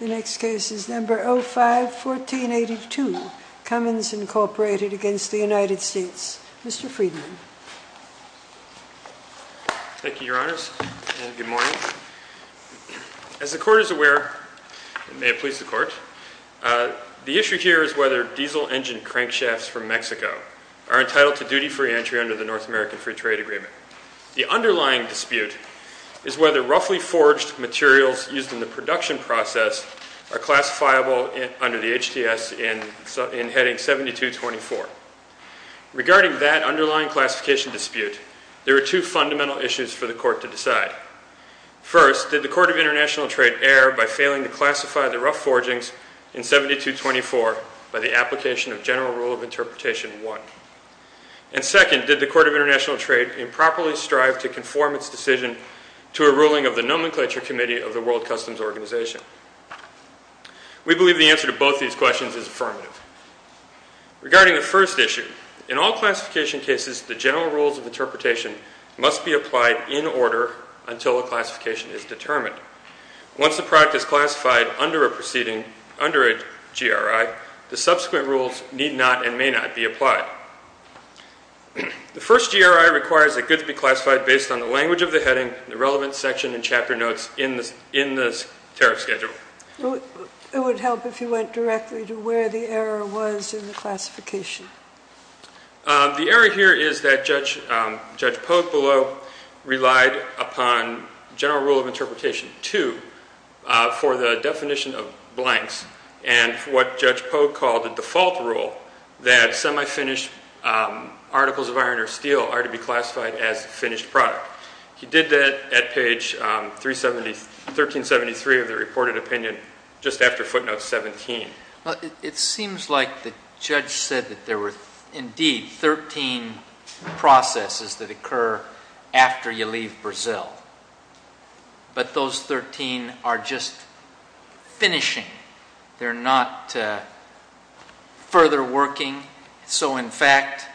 The next case is number 05-1482, Cummins Incorporated against the United States. Mr. Friedman. Thank you, Your Honors, and good morning. As the Court is aware, and may it please the Court, the issue here is whether diesel engine crankshafts from Mexico are entitled to duty-free entry under the North American Free Trade Agreement. The underlying dispute is whether roughly forged materials used in the production process are classifiable under the HTS in Heading 7224. Regarding that underlying classification dispute, there are two fundamental issues for the Court to decide. First, did the Court of International Trade err by failing to classify the rough forgings in 7224 by the application of General Rule of Interpretation 1? And second, did the Court of International Trade improperly strive to conform its decision to a ruling of the Nomenclature Committee of the World Customs Organization? We believe the answer to both these questions is affirmative. Regarding the first issue, in all classification cases, the General Rules of Interpretation must be applied in order until a classification is determined. Once a product is classified under a proceeding, under a GRI, the subsequent rules need not and may not be applied. The first GRI requires that goods be classified based on the language of the heading, the relevant section, and chapter notes in the tariff schedule. It would help if you went directly to where the error was in the classification. The error here is that Judge Pogue below relied upon General Rule of Interpretation 2 for the definition of blanks and what Judge Pogue called a default rule that semi-finished articles of iron or steel are to be classified as a finished product. He did that at page 1373 of the reported opinion just after footnote 17. It seems like the judge said that there were indeed 13 processes that occur after you leave Brazil, but those 13 are just finishing. They're not further working. So in fact,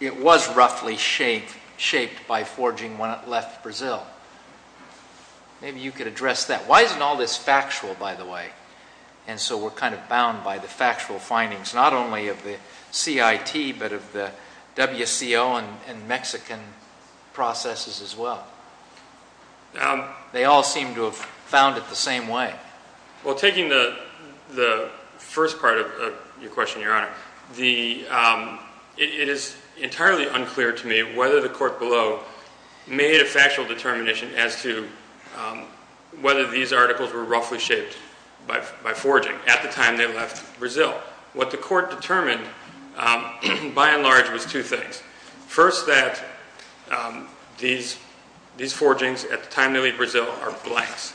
it was roughly shaped by forging when it left Brazil. Maybe you could address that. Why isn't all this factual, by the way? And so we're kind of bound by the factual findings, not only of the CIT but of the WCO and Mexican processes as well. They all seem to have found it the same way. Well, taking the first part of your question, Your Honor, it is entirely unclear to me whether the court below made a factual determination as to whether these articles were roughly shaped by forging at the time they left Brazil. What the court determined, by and large, was two things. First that these forgings at the time they leave Brazil are blanks.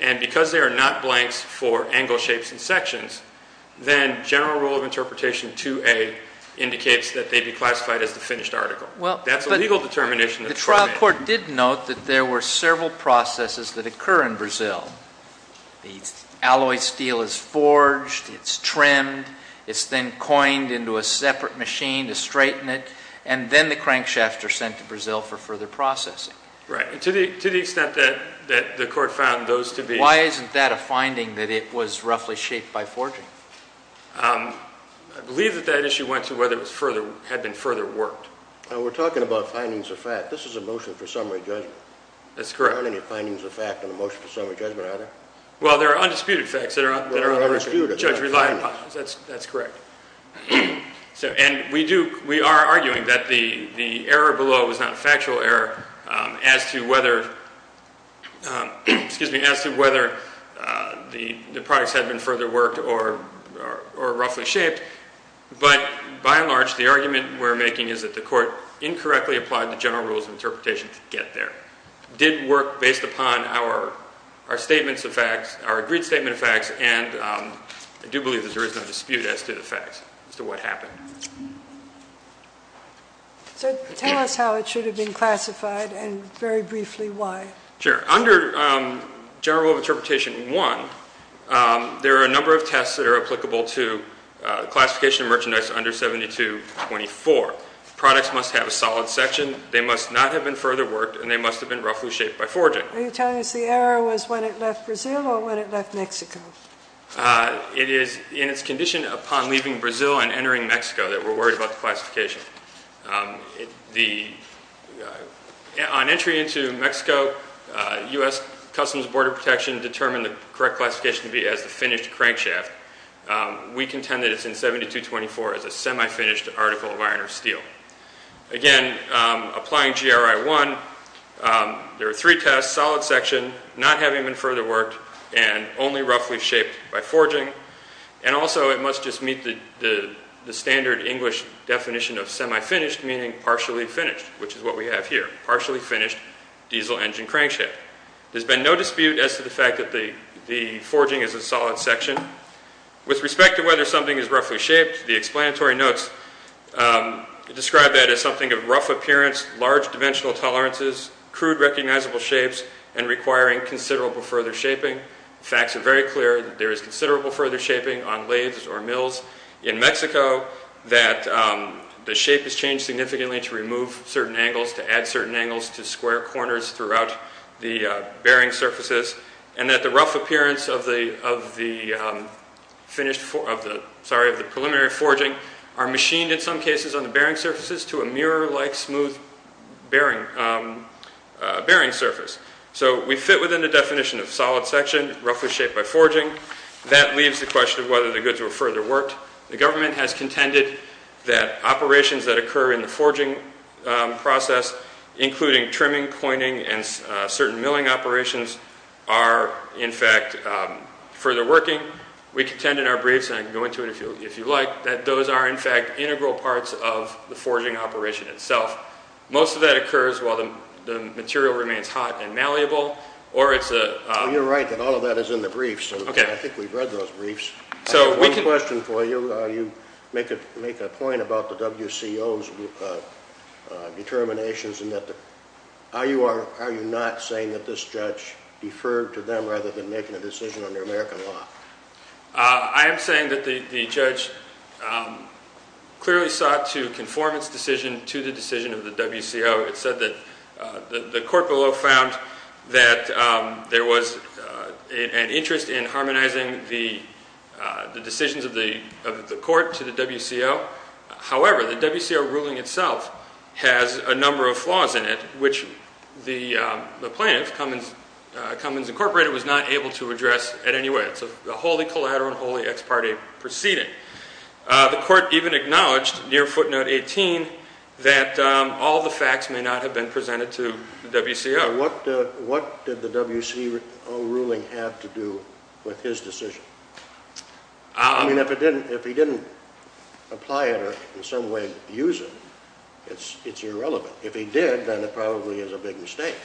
And because they are not blanks for angle shapes and sections, then general rule of interpretation 2A indicates that they be classified as the finished article. That's a legal determination that the court made. Well, but the trial court did note that there were several processes that occur in Brazil. The alloy steel is forged, it's trimmed, it's then coined into a separate machine to straighten it, and then the crankshafts are sent to Brazil for further processing. Right. And to the extent that the court found those to be Why isn't that a finding that it was roughly shaped by forging? I believe that that issue went to whether it had been further worked. We're talking about findings of fact. This is a motion for summary judgment. That's correct. But there aren't any findings of fact in the motion for summary judgment, are there? Well, there are undisputed facts that are undisputed that the judge relied upon. That's correct. And we are arguing that the error below was not a factual error as to whether the products had been further worked or roughly shaped. But by and large, the argument we're making is that the court incorrectly applied the general rules of interpretation to get there. Did work based upon our statements of facts, our agreed statement of facts, and I do believe that there is no dispute as to the facts, as to what happened. So tell us how it should have been classified and very briefly why. Sure. Under general rule of interpretation one, there are a number of tests that are applicable to classification of merchandise under 7224. Products must have a solid section, they must not have been further worked, and they must have been roughly shaped by forging. Are you telling us the error was when it left Brazil or when it left Mexico? It is in its condition upon leaving Brazil and entering Mexico that we're worried about the classification. On entry into Mexico, U.S. Customs Border Protection determined the correct classification to be as the finished crankshaft. We contend that it's in 7224 as a semi-finished article of iron or steel. Again, applying GRI 1, there are three tests, solid section, not having been further worked, and only roughly shaped by forging, and also it must just meet the standard English definition of semi-finished, meaning partially finished, which is what we have here, partially finished diesel engine crankshaft. There's been no dispute as to the fact that the forging is a solid section. With respect to whether something is roughly shaped, the explanatory notes describe that as something of rough appearance, large dimensional tolerances, crude recognizable shapes, and requiring considerable further shaping. Facts are very clear that there is considerable further shaping on lathes or mills in Mexico, that the shape has changed significantly to remove certain angles, to add certain angles, to square corners throughout the bearing surfaces, and that the rough appearance of the preliminary forging are machined in some cases on the bearing surfaces to a mirror-like smooth bearing surface. So we fit within the definition of solid section, roughly shaped by forging. That leaves the question of whether the goods were further worked. The government has contended that operations that occur in the forging process, including trimming, coining, and certain milling operations, are in fact further working. We contend in our briefs, and I can go into it if you like, that those are in fact integral parts of the forging operation itself. Most of that occurs while the material remains hot and malleable, or it's a... You're right that all of that is in the briefs. I think we've read those briefs. So we can... I have one question for you. You make a point about the WCO's determinations, and that the... Are you not saying that this judge deferred to them rather than making a decision under American law? I am saying that the judge clearly sought to conform its decision to the decision of the WCO. It said that the court below found that there was an interest in harmonizing the decisions of the court to the WCO. However, the WCO ruling itself has a number of flaws in it, which the plaintiff, Cummins Incorporated, was not able to address in any way. It's a wholly collateral, wholly ex parte proceeding. The court even acknowledged near footnote 18 that all the facts may not have been presented to the WCO. What did the WCO ruling have to do with his decision? I mean, if he didn't apply it or in some way use it, it's irrelevant. If he did, then it probably is a big mistake.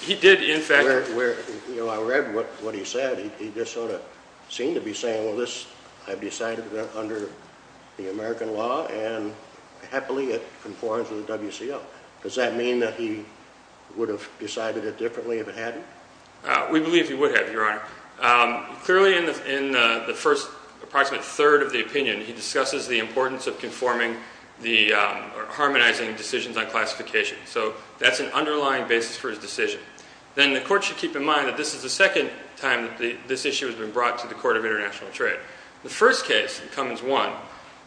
He did, in fact... I read what he said. He just sort of seemed to be saying, well, this I've decided under the American law and happily it conforms with the WCO. Does that mean that he would have decided it differently if it hadn't? We believe he would have, Your Honor. Clearly in the first, approximately third of the opinion, he discusses the importance of conforming the harmonizing decisions on classification. So that's an underlying basis for his decision. Then the court should keep in mind that this is the second time that this issue has been brought to the Court of International Trade. The first case, Cummins 1,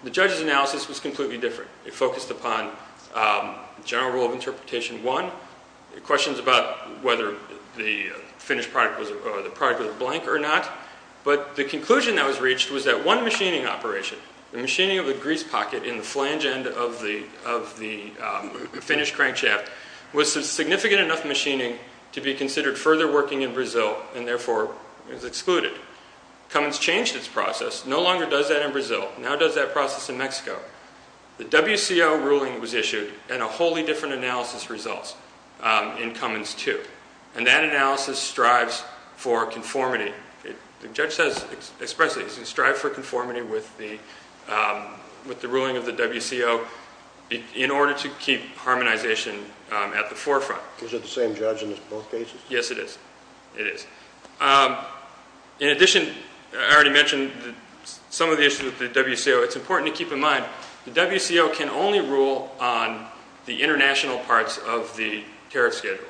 the judge's analysis was completely different. It focused upon general rule of interpretation one, questions about whether the finished product was a blank or not. But the conclusion that was reached was that one machining operation, the machining of further working in Brazil and therefore is excluded. Cummins changed its process, no longer does that in Brazil, now does that process in Mexico. The WCO ruling was issued and a wholly different analysis results in Cummins 2. And that analysis strives for conformity. The judge says expressly, he strives for conformity with the ruling of the WCO in order to keep harmonization at the forefront. Is it the same judge in both cases? Yes, it is. It is. In addition, I already mentioned some of the issues with the WCO. It's important to keep in mind the WCO can only rule on the international parts of the tariff schedule.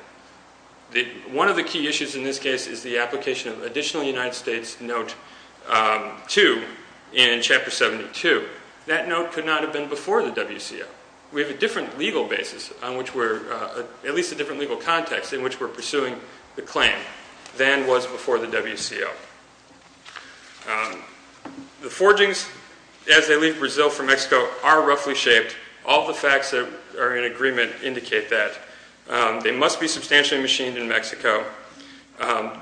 One of the key issues in this case is the application of additional United States note 2 in Chapter 72. That note could not have been before the WCO. We have a different legal basis on which we're, at least a different legal context in which we're pursuing the claim than was before the WCO. The forgings as they leave Brazil for Mexico are roughly shaped. All the facts that are in agreement indicate that. They must be substantially machined in Mexico.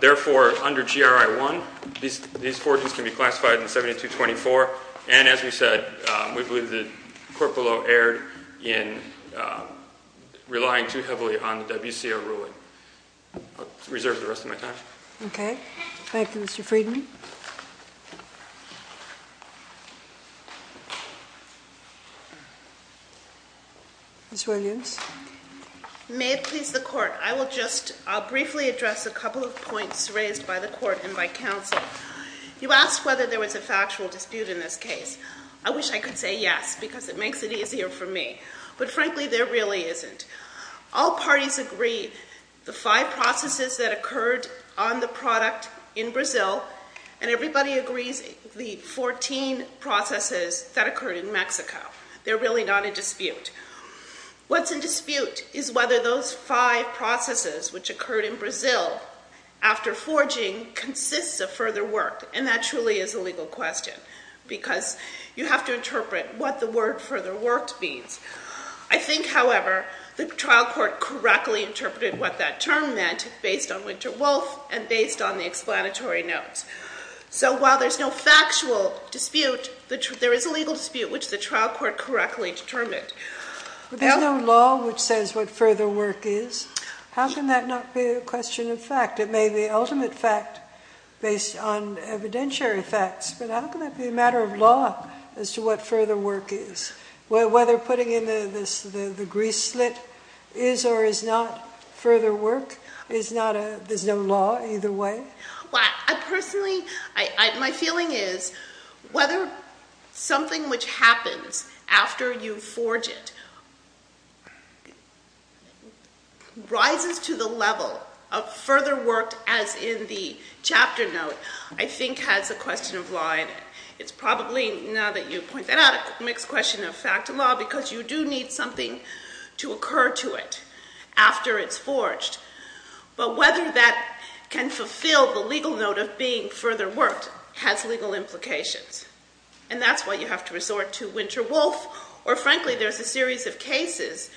Therefore under GRI 1, these forgings can be classified in 7224. And as we said, we believe the court below erred in relying too heavily on the WCO ruling. I'll reserve the rest of my time. Okay. Thank you, Mr. Friedman. Ms. Williams. May it please the court. I will just, I'll briefly address a couple of points raised by the court and by counsel. You asked whether there was a factual dispute in this case. I wish I could say yes because it makes it easier for me. But frankly, there really isn't. All parties agree the five processes that occurred on the product in Brazil and everybody agrees the 14 processes that occurred in Mexico. They're really not a dispute. What's in dispute is whether those five processes which occurred in Brazil after forging consists of further work. And that truly is a legal question because you have to interpret what the word further work means. I think, however, the trial court correctly interpreted what that term meant based on Winter Wolf and based on the explanatory notes. So while there's no factual dispute, there is a legal dispute which the trial court correctly determined. There's no law which says what further work is. How can that not be a question of fact? It may be ultimate fact based on evidentiary facts, but how can that be a matter of law as to what further work is? Whether putting in the grease slit is or is not further work is not a, there's no law either way? Well, I personally, my feeling is whether something which happens after you forge it rises to the level of further work as in the chapter note, I think has a question of law in it. It's probably, now that you point that out, a mixed question of fact and law because you do need something to occur to it after it's forged. But whether that can fulfill the legal note of being further worked has legal implications. And that's why you have to resort to Winter Wolf or frankly there's a series of cases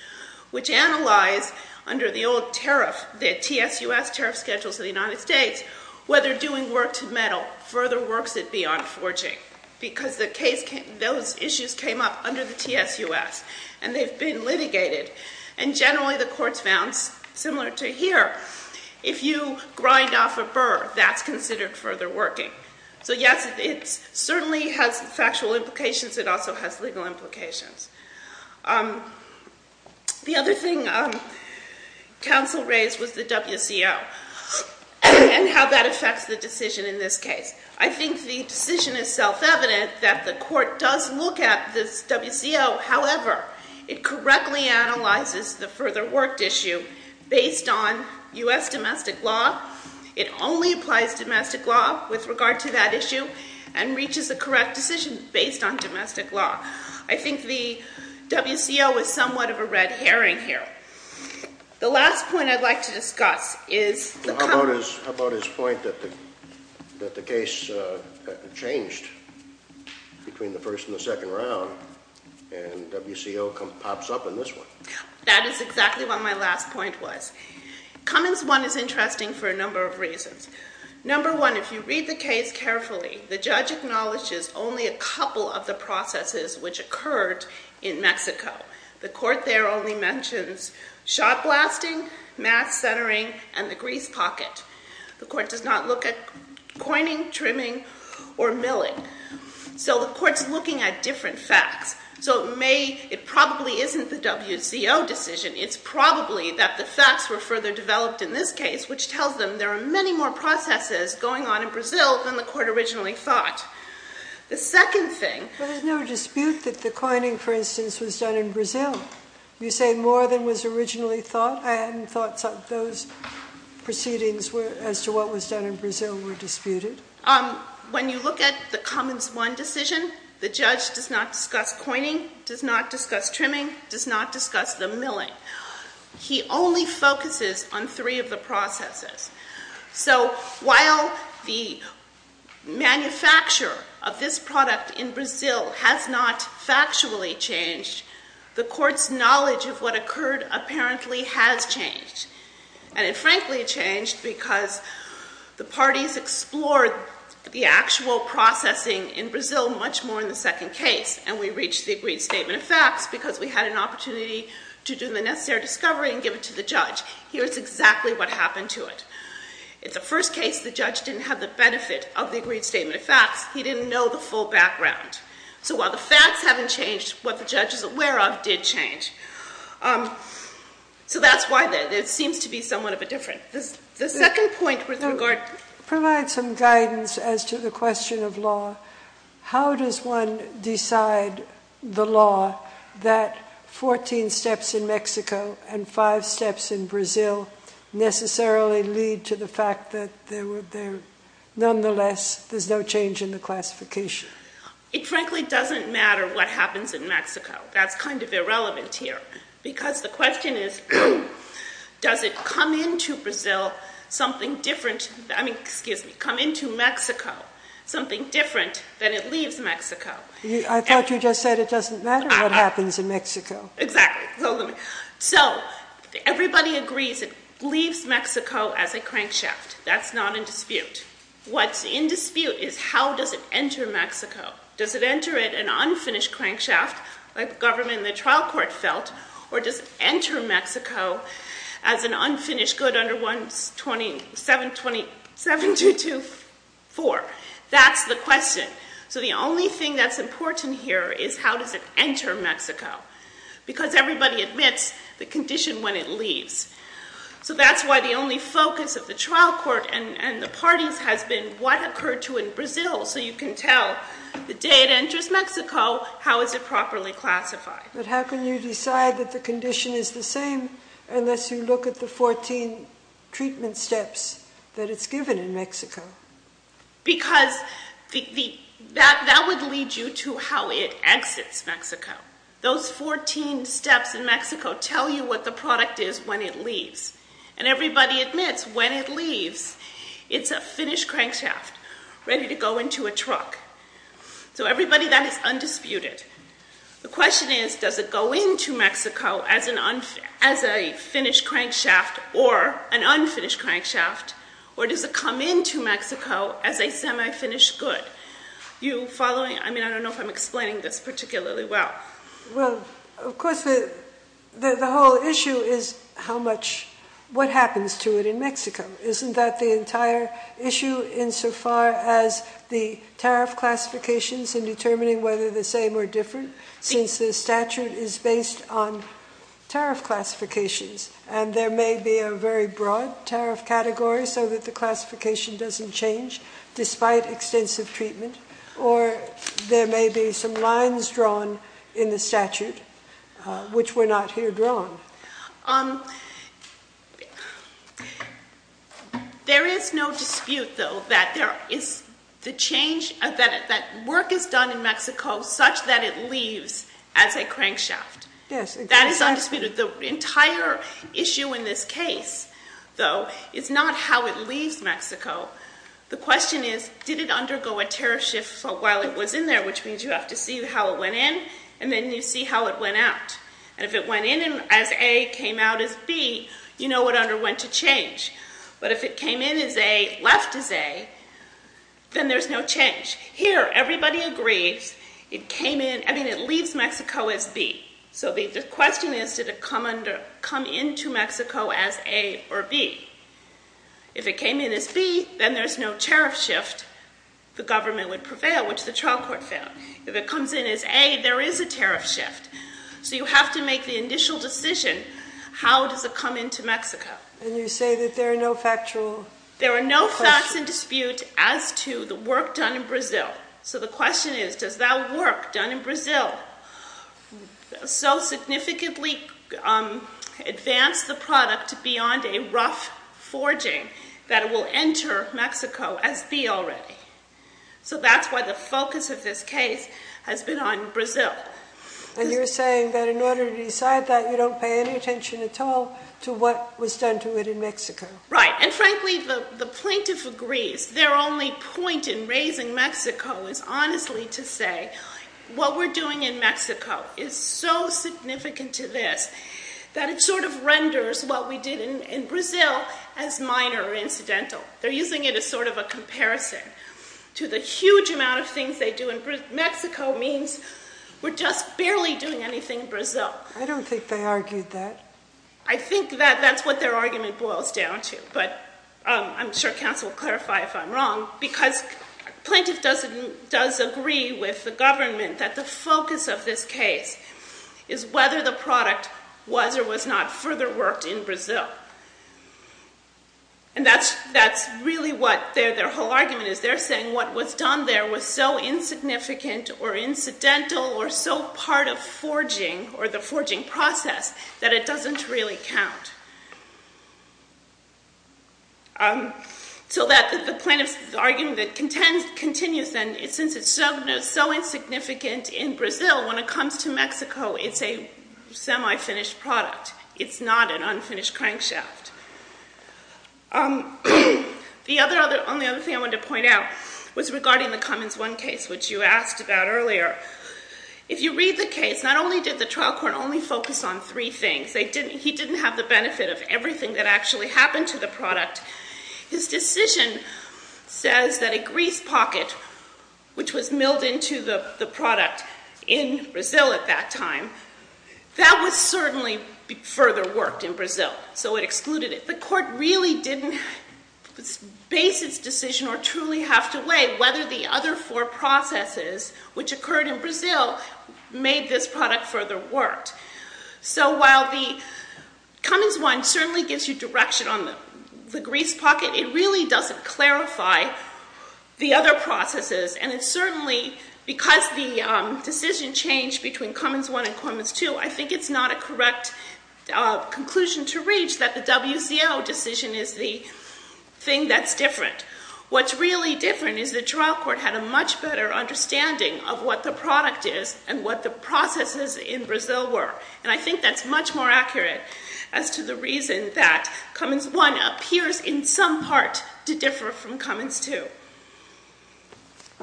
which analyze under the old tariff, the TSUS tariff schedules of the United States, whether doing work to metal further works it beyond forging because the case, those issues came up under the TSUS and they've been litigated. And generally the courts found, similar to here, if you grind off a burr, that's considered further working. So yes, it certainly has factual implications, it also has legal implications. The other thing counsel raised was the WCO and how that affects the decision in this case. I think the decision is self-evident that the court does look at this WCO, however, it correctly analyzes the further worked issue based on U.S. domestic law. It only applies domestic law with regard to that issue and reaches the correct decision based on domestic law. I think the WCO is somewhat of a red herring here. The last point I'd like to discuss is the Cummins. How about his point that the case changed between the first and the second round and WCO pops up in this one? That is exactly what my last point was. Cummins 1 is interesting for a number of reasons. Number one, if you read the case carefully, the judge acknowledges only a couple of the processes which occurred in Mexico. The court there only mentions shot blasting, mass centering, and the grease pocket. The court does not look at coining, trimming, or milling. So the court's looking at different facts. So it probably isn't the WCO decision. It's probably that the facts were further developed in this case, which tells them there are many more processes going on in Brazil than the court originally thought. The second thing- But there's no dispute that the coining, for instance, was done in Brazil. You say more than was originally thought. I hadn't thought those proceedings as to what was done in Brazil were disputed. When you look at the Cummins 1 decision, the judge does not discuss coining, does not discuss trimming, does not discuss the milling. He only focuses on three of the processes. So while the manufacturer of this product in Brazil has not factually changed, the court's knowledge of what occurred apparently has changed. And it frankly changed because the parties explored the actual processing in Brazil much more in the second case. And we reached the agreed statement of facts because we had an opportunity to do the necessary discovery and give it to the judge. Here's exactly what happened to it. In the first case, the judge didn't have the benefit of the agreed statement of facts. He didn't know the full background. So while the facts haven't changed, what the judge is aware of did change. So that's why there seems to be somewhat of a difference. The second point with regard... Provide some guidance as to the question of law. How does one decide the law that 14 steps in Mexico and five steps in Brazil necessarily lead to the fact that there were... Nonetheless, there's no change in the classification? It frankly doesn't matter what happens in Mexico. That's kind of irrelevant here because the question is, does it come into Brazil something different... I mean, excuse me, come into Mexico something different than it leaves Mexico? I thought you just said it doesn't matter what happens in Mexico. Exactly. So let me... So everybody agrees it leaves Mexico as a crankshaft. That's not in dispute. What's in dispute is how does it enter Mexico? Does it enter it an unfinished crankshaft like the government and the trial court felt? Or does it enter Mexico as an unfinished good under 17224? That's the question. So the only thing that's important here is how does it enter Mexico? Because everybody admits the condition when it leaves. So that's why the only focus of the trial court and the parties has been what occurred to in Brazil so you can tell the day it enters Mexico, how is it properly classified? But how can you decide that the condition is the same unless you look at the 14 treatment steps that it's given in Mexico? Because that would lead you to how it exits Mexico. Those 14 steps in Mexico tell you what the product is when it leaves. And everybody admits when it leaves, it's a finished crankshaft ready to go into a truck. So everybody then is undisputed. The question is, does it go into Mexico as a finished crankshaft or an unfinished crankshaft? Or does it come into Mexico as a semi-finished good? You following? I mean, I don't know if I'm explaining this particularly well. Well, of course, the whole issue is how much, what happens to it in Mexico? Isn't that the entire issue insofar as the tariff classifications in determining whether the same or different since the statute is based on tariff classifications? And there may be a very broad tariff category so that the classification doesn't change despite extensive treatment. Or there may be some lines drawn in the statute which were not here drawn. There is no dispute, though, that work is done in Mexico such that it leaves as a crankshaft. That is undisputed. The entire issue in this case, though, is not how it leaves Mexico. The question is, did it undergo a tariff shift while it was in there? Which means you have to see how it went in and then you see how it went out. And if it went in as A, came out as B, you know what underwent a change. But if it came in as A, left as A, then there's no change. Here, everybody agrees it came in, I mean, it leaves Mexico as B. So the question is, did it come into Mexico as A or B? If it came in as B, then there's no tariff shift. The government would prevail, which the trial court found. If it comes in as A, there is a tariff shift. So you have to make the initial decision, how does it come into Mexico? And you say that there are no factual questions? There are no facts in dispute as to the work done in Brazil. So the question is, does that work done in Brazil so that it's not forging that it will enter Mexico as B already? So that's why the focus of this case has been on Brazil. And you're saying that in order to decide that, you don't pay any attention at all to what was done to it in Mexico. Right, and frankly, the plaintiff agrees. Their only point in raising Mexico is honestly to say, what we're doing in Mexico is so significant to this. That it sort of renders what we did in Brazil as minor or incidental. They're using it as sort of a comparison to the huge amount of things they do. And Mexico means we're just barely doing anything in Brazil. I don't think they argued that. I think that that's what their argument boils down to. But I'm sure counsel will clarify if I'm wrong. Because plaintiff does agree with the government that the focus of this case is whether the product was or was not further worked in Brazil. And that's really what their whole argument is. They're saying what was done there was so insignificant or incidental or so part of forging or the forging process that it doesn't really count. So that the plaintiff's argument that continues then, since it's so insignificant in Brazil, when it comes to Mexico, it's a semi-finished product. It's not an unfinished crankshaft. The only other thing I wanted to point out was regarding the Cummins 1 case, which you asked about earlier. If you read the case, not only did the trial court only focus on three things. He didn't have the benefit of everything that actually happened to the product. His decision says that a grease pocket, which was milled into the product in Brazil at that time, that was certainly further worked in Brazil, so it excluded it. The court really didn't base its decision or truly have to weigh whether the other four processes, which occurred in Brazil, made this product further worked. So while the Cummins 1 certainly gives you direction on the grease pocket, it really doesn't clarify the other processes. And it's certainly, because the decision changed between Cummins 1 and Cummins 2, I think it's not a correct conclusion to reach that the WCO decision is the thing that's different. What's really different is the trial court had a much better understanding of what the product is and what the processes in Brazil were. And I think that's much more accurate as to the reason that Cummins 1 appears in some part to differ from Cummins 2.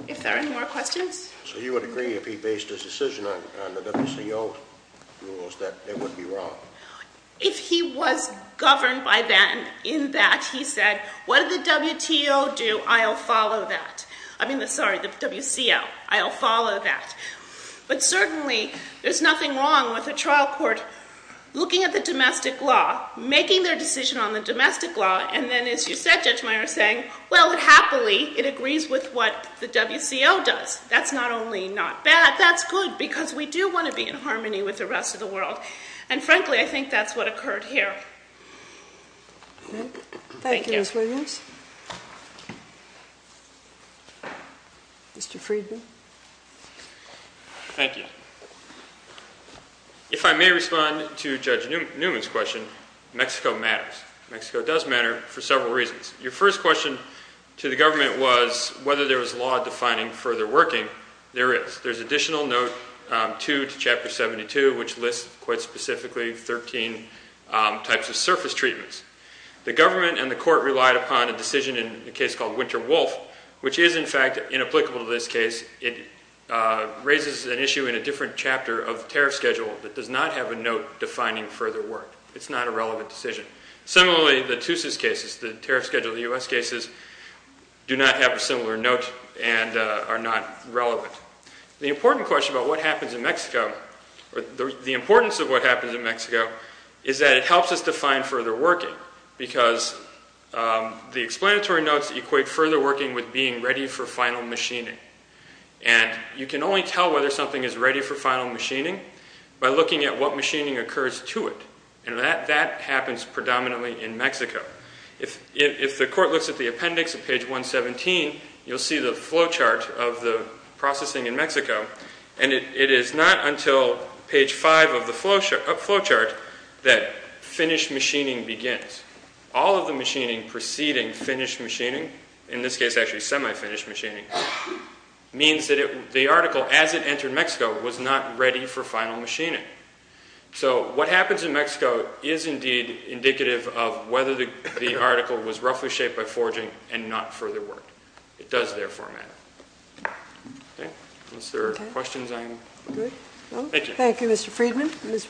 If there are any more questions? So you would agree if he based his decision on the WCO rules that it would be wrong? If he was governed by then in that he said, what did the WTO do? I'll follow that. But certainly, there's nothing wrong with a trial court looking at the domestic law, making their decision on the domestic law, and then as you said, Judge Meyer, saying, well, happily, it agrees with what the WCO does. That's not only not bad, that's good, because we do want to be in harmony with the rest of the world. And frankly, I think that's what occurred here. Thank you. Thank you, Ms. Williams. Mr. Friedman? Thank you. If I may respond to Judge Newman's question, Mexico matters. Mexico does matter for several reasons. Your first question to the government was whether there was law defining further working. There is. There's additional note 2 to Chapter 72, which lists quite specifically 13 types of surface treatments. The government and the court relied upon a decision in a case called Winter Wolf, which is, in fact, inapplicable to this case. It raises an issue in a different chapter of tariff schedule that does not have a note defining further work. It's not a relevant decision. Similarly, the TUSIS cases, the tariff schedule of the U.S. cases, do not have a similar note and are not relevant. The important question about what happens in Mexico, or the importance of what happens in Mexico, is that it helps us define further working, because the explanatory notes equate further working with being ready for final machining. And you can only tell whether something is ready for final machining by looking at what machining occurs to it, and that happens predominantly in Mexico. If the court looks at the appendix at page 117, you'll see the flow chart of the processing in Mexico, and it is not until page 5 of the flow chart that finished machining begins. All of the machining preceding finished machining, in this case actually semi-finished machining, means that the article, as it entered Mexico, was not ready for final machining. So what happens in Mexico is indeed indicative of whether the article was roughly shaped by forging and not further work. It does, therefore, matter. Okay, unless there are questions, I'm good. Thank you. Thank you, Mr. Friedman. Ms. Williams?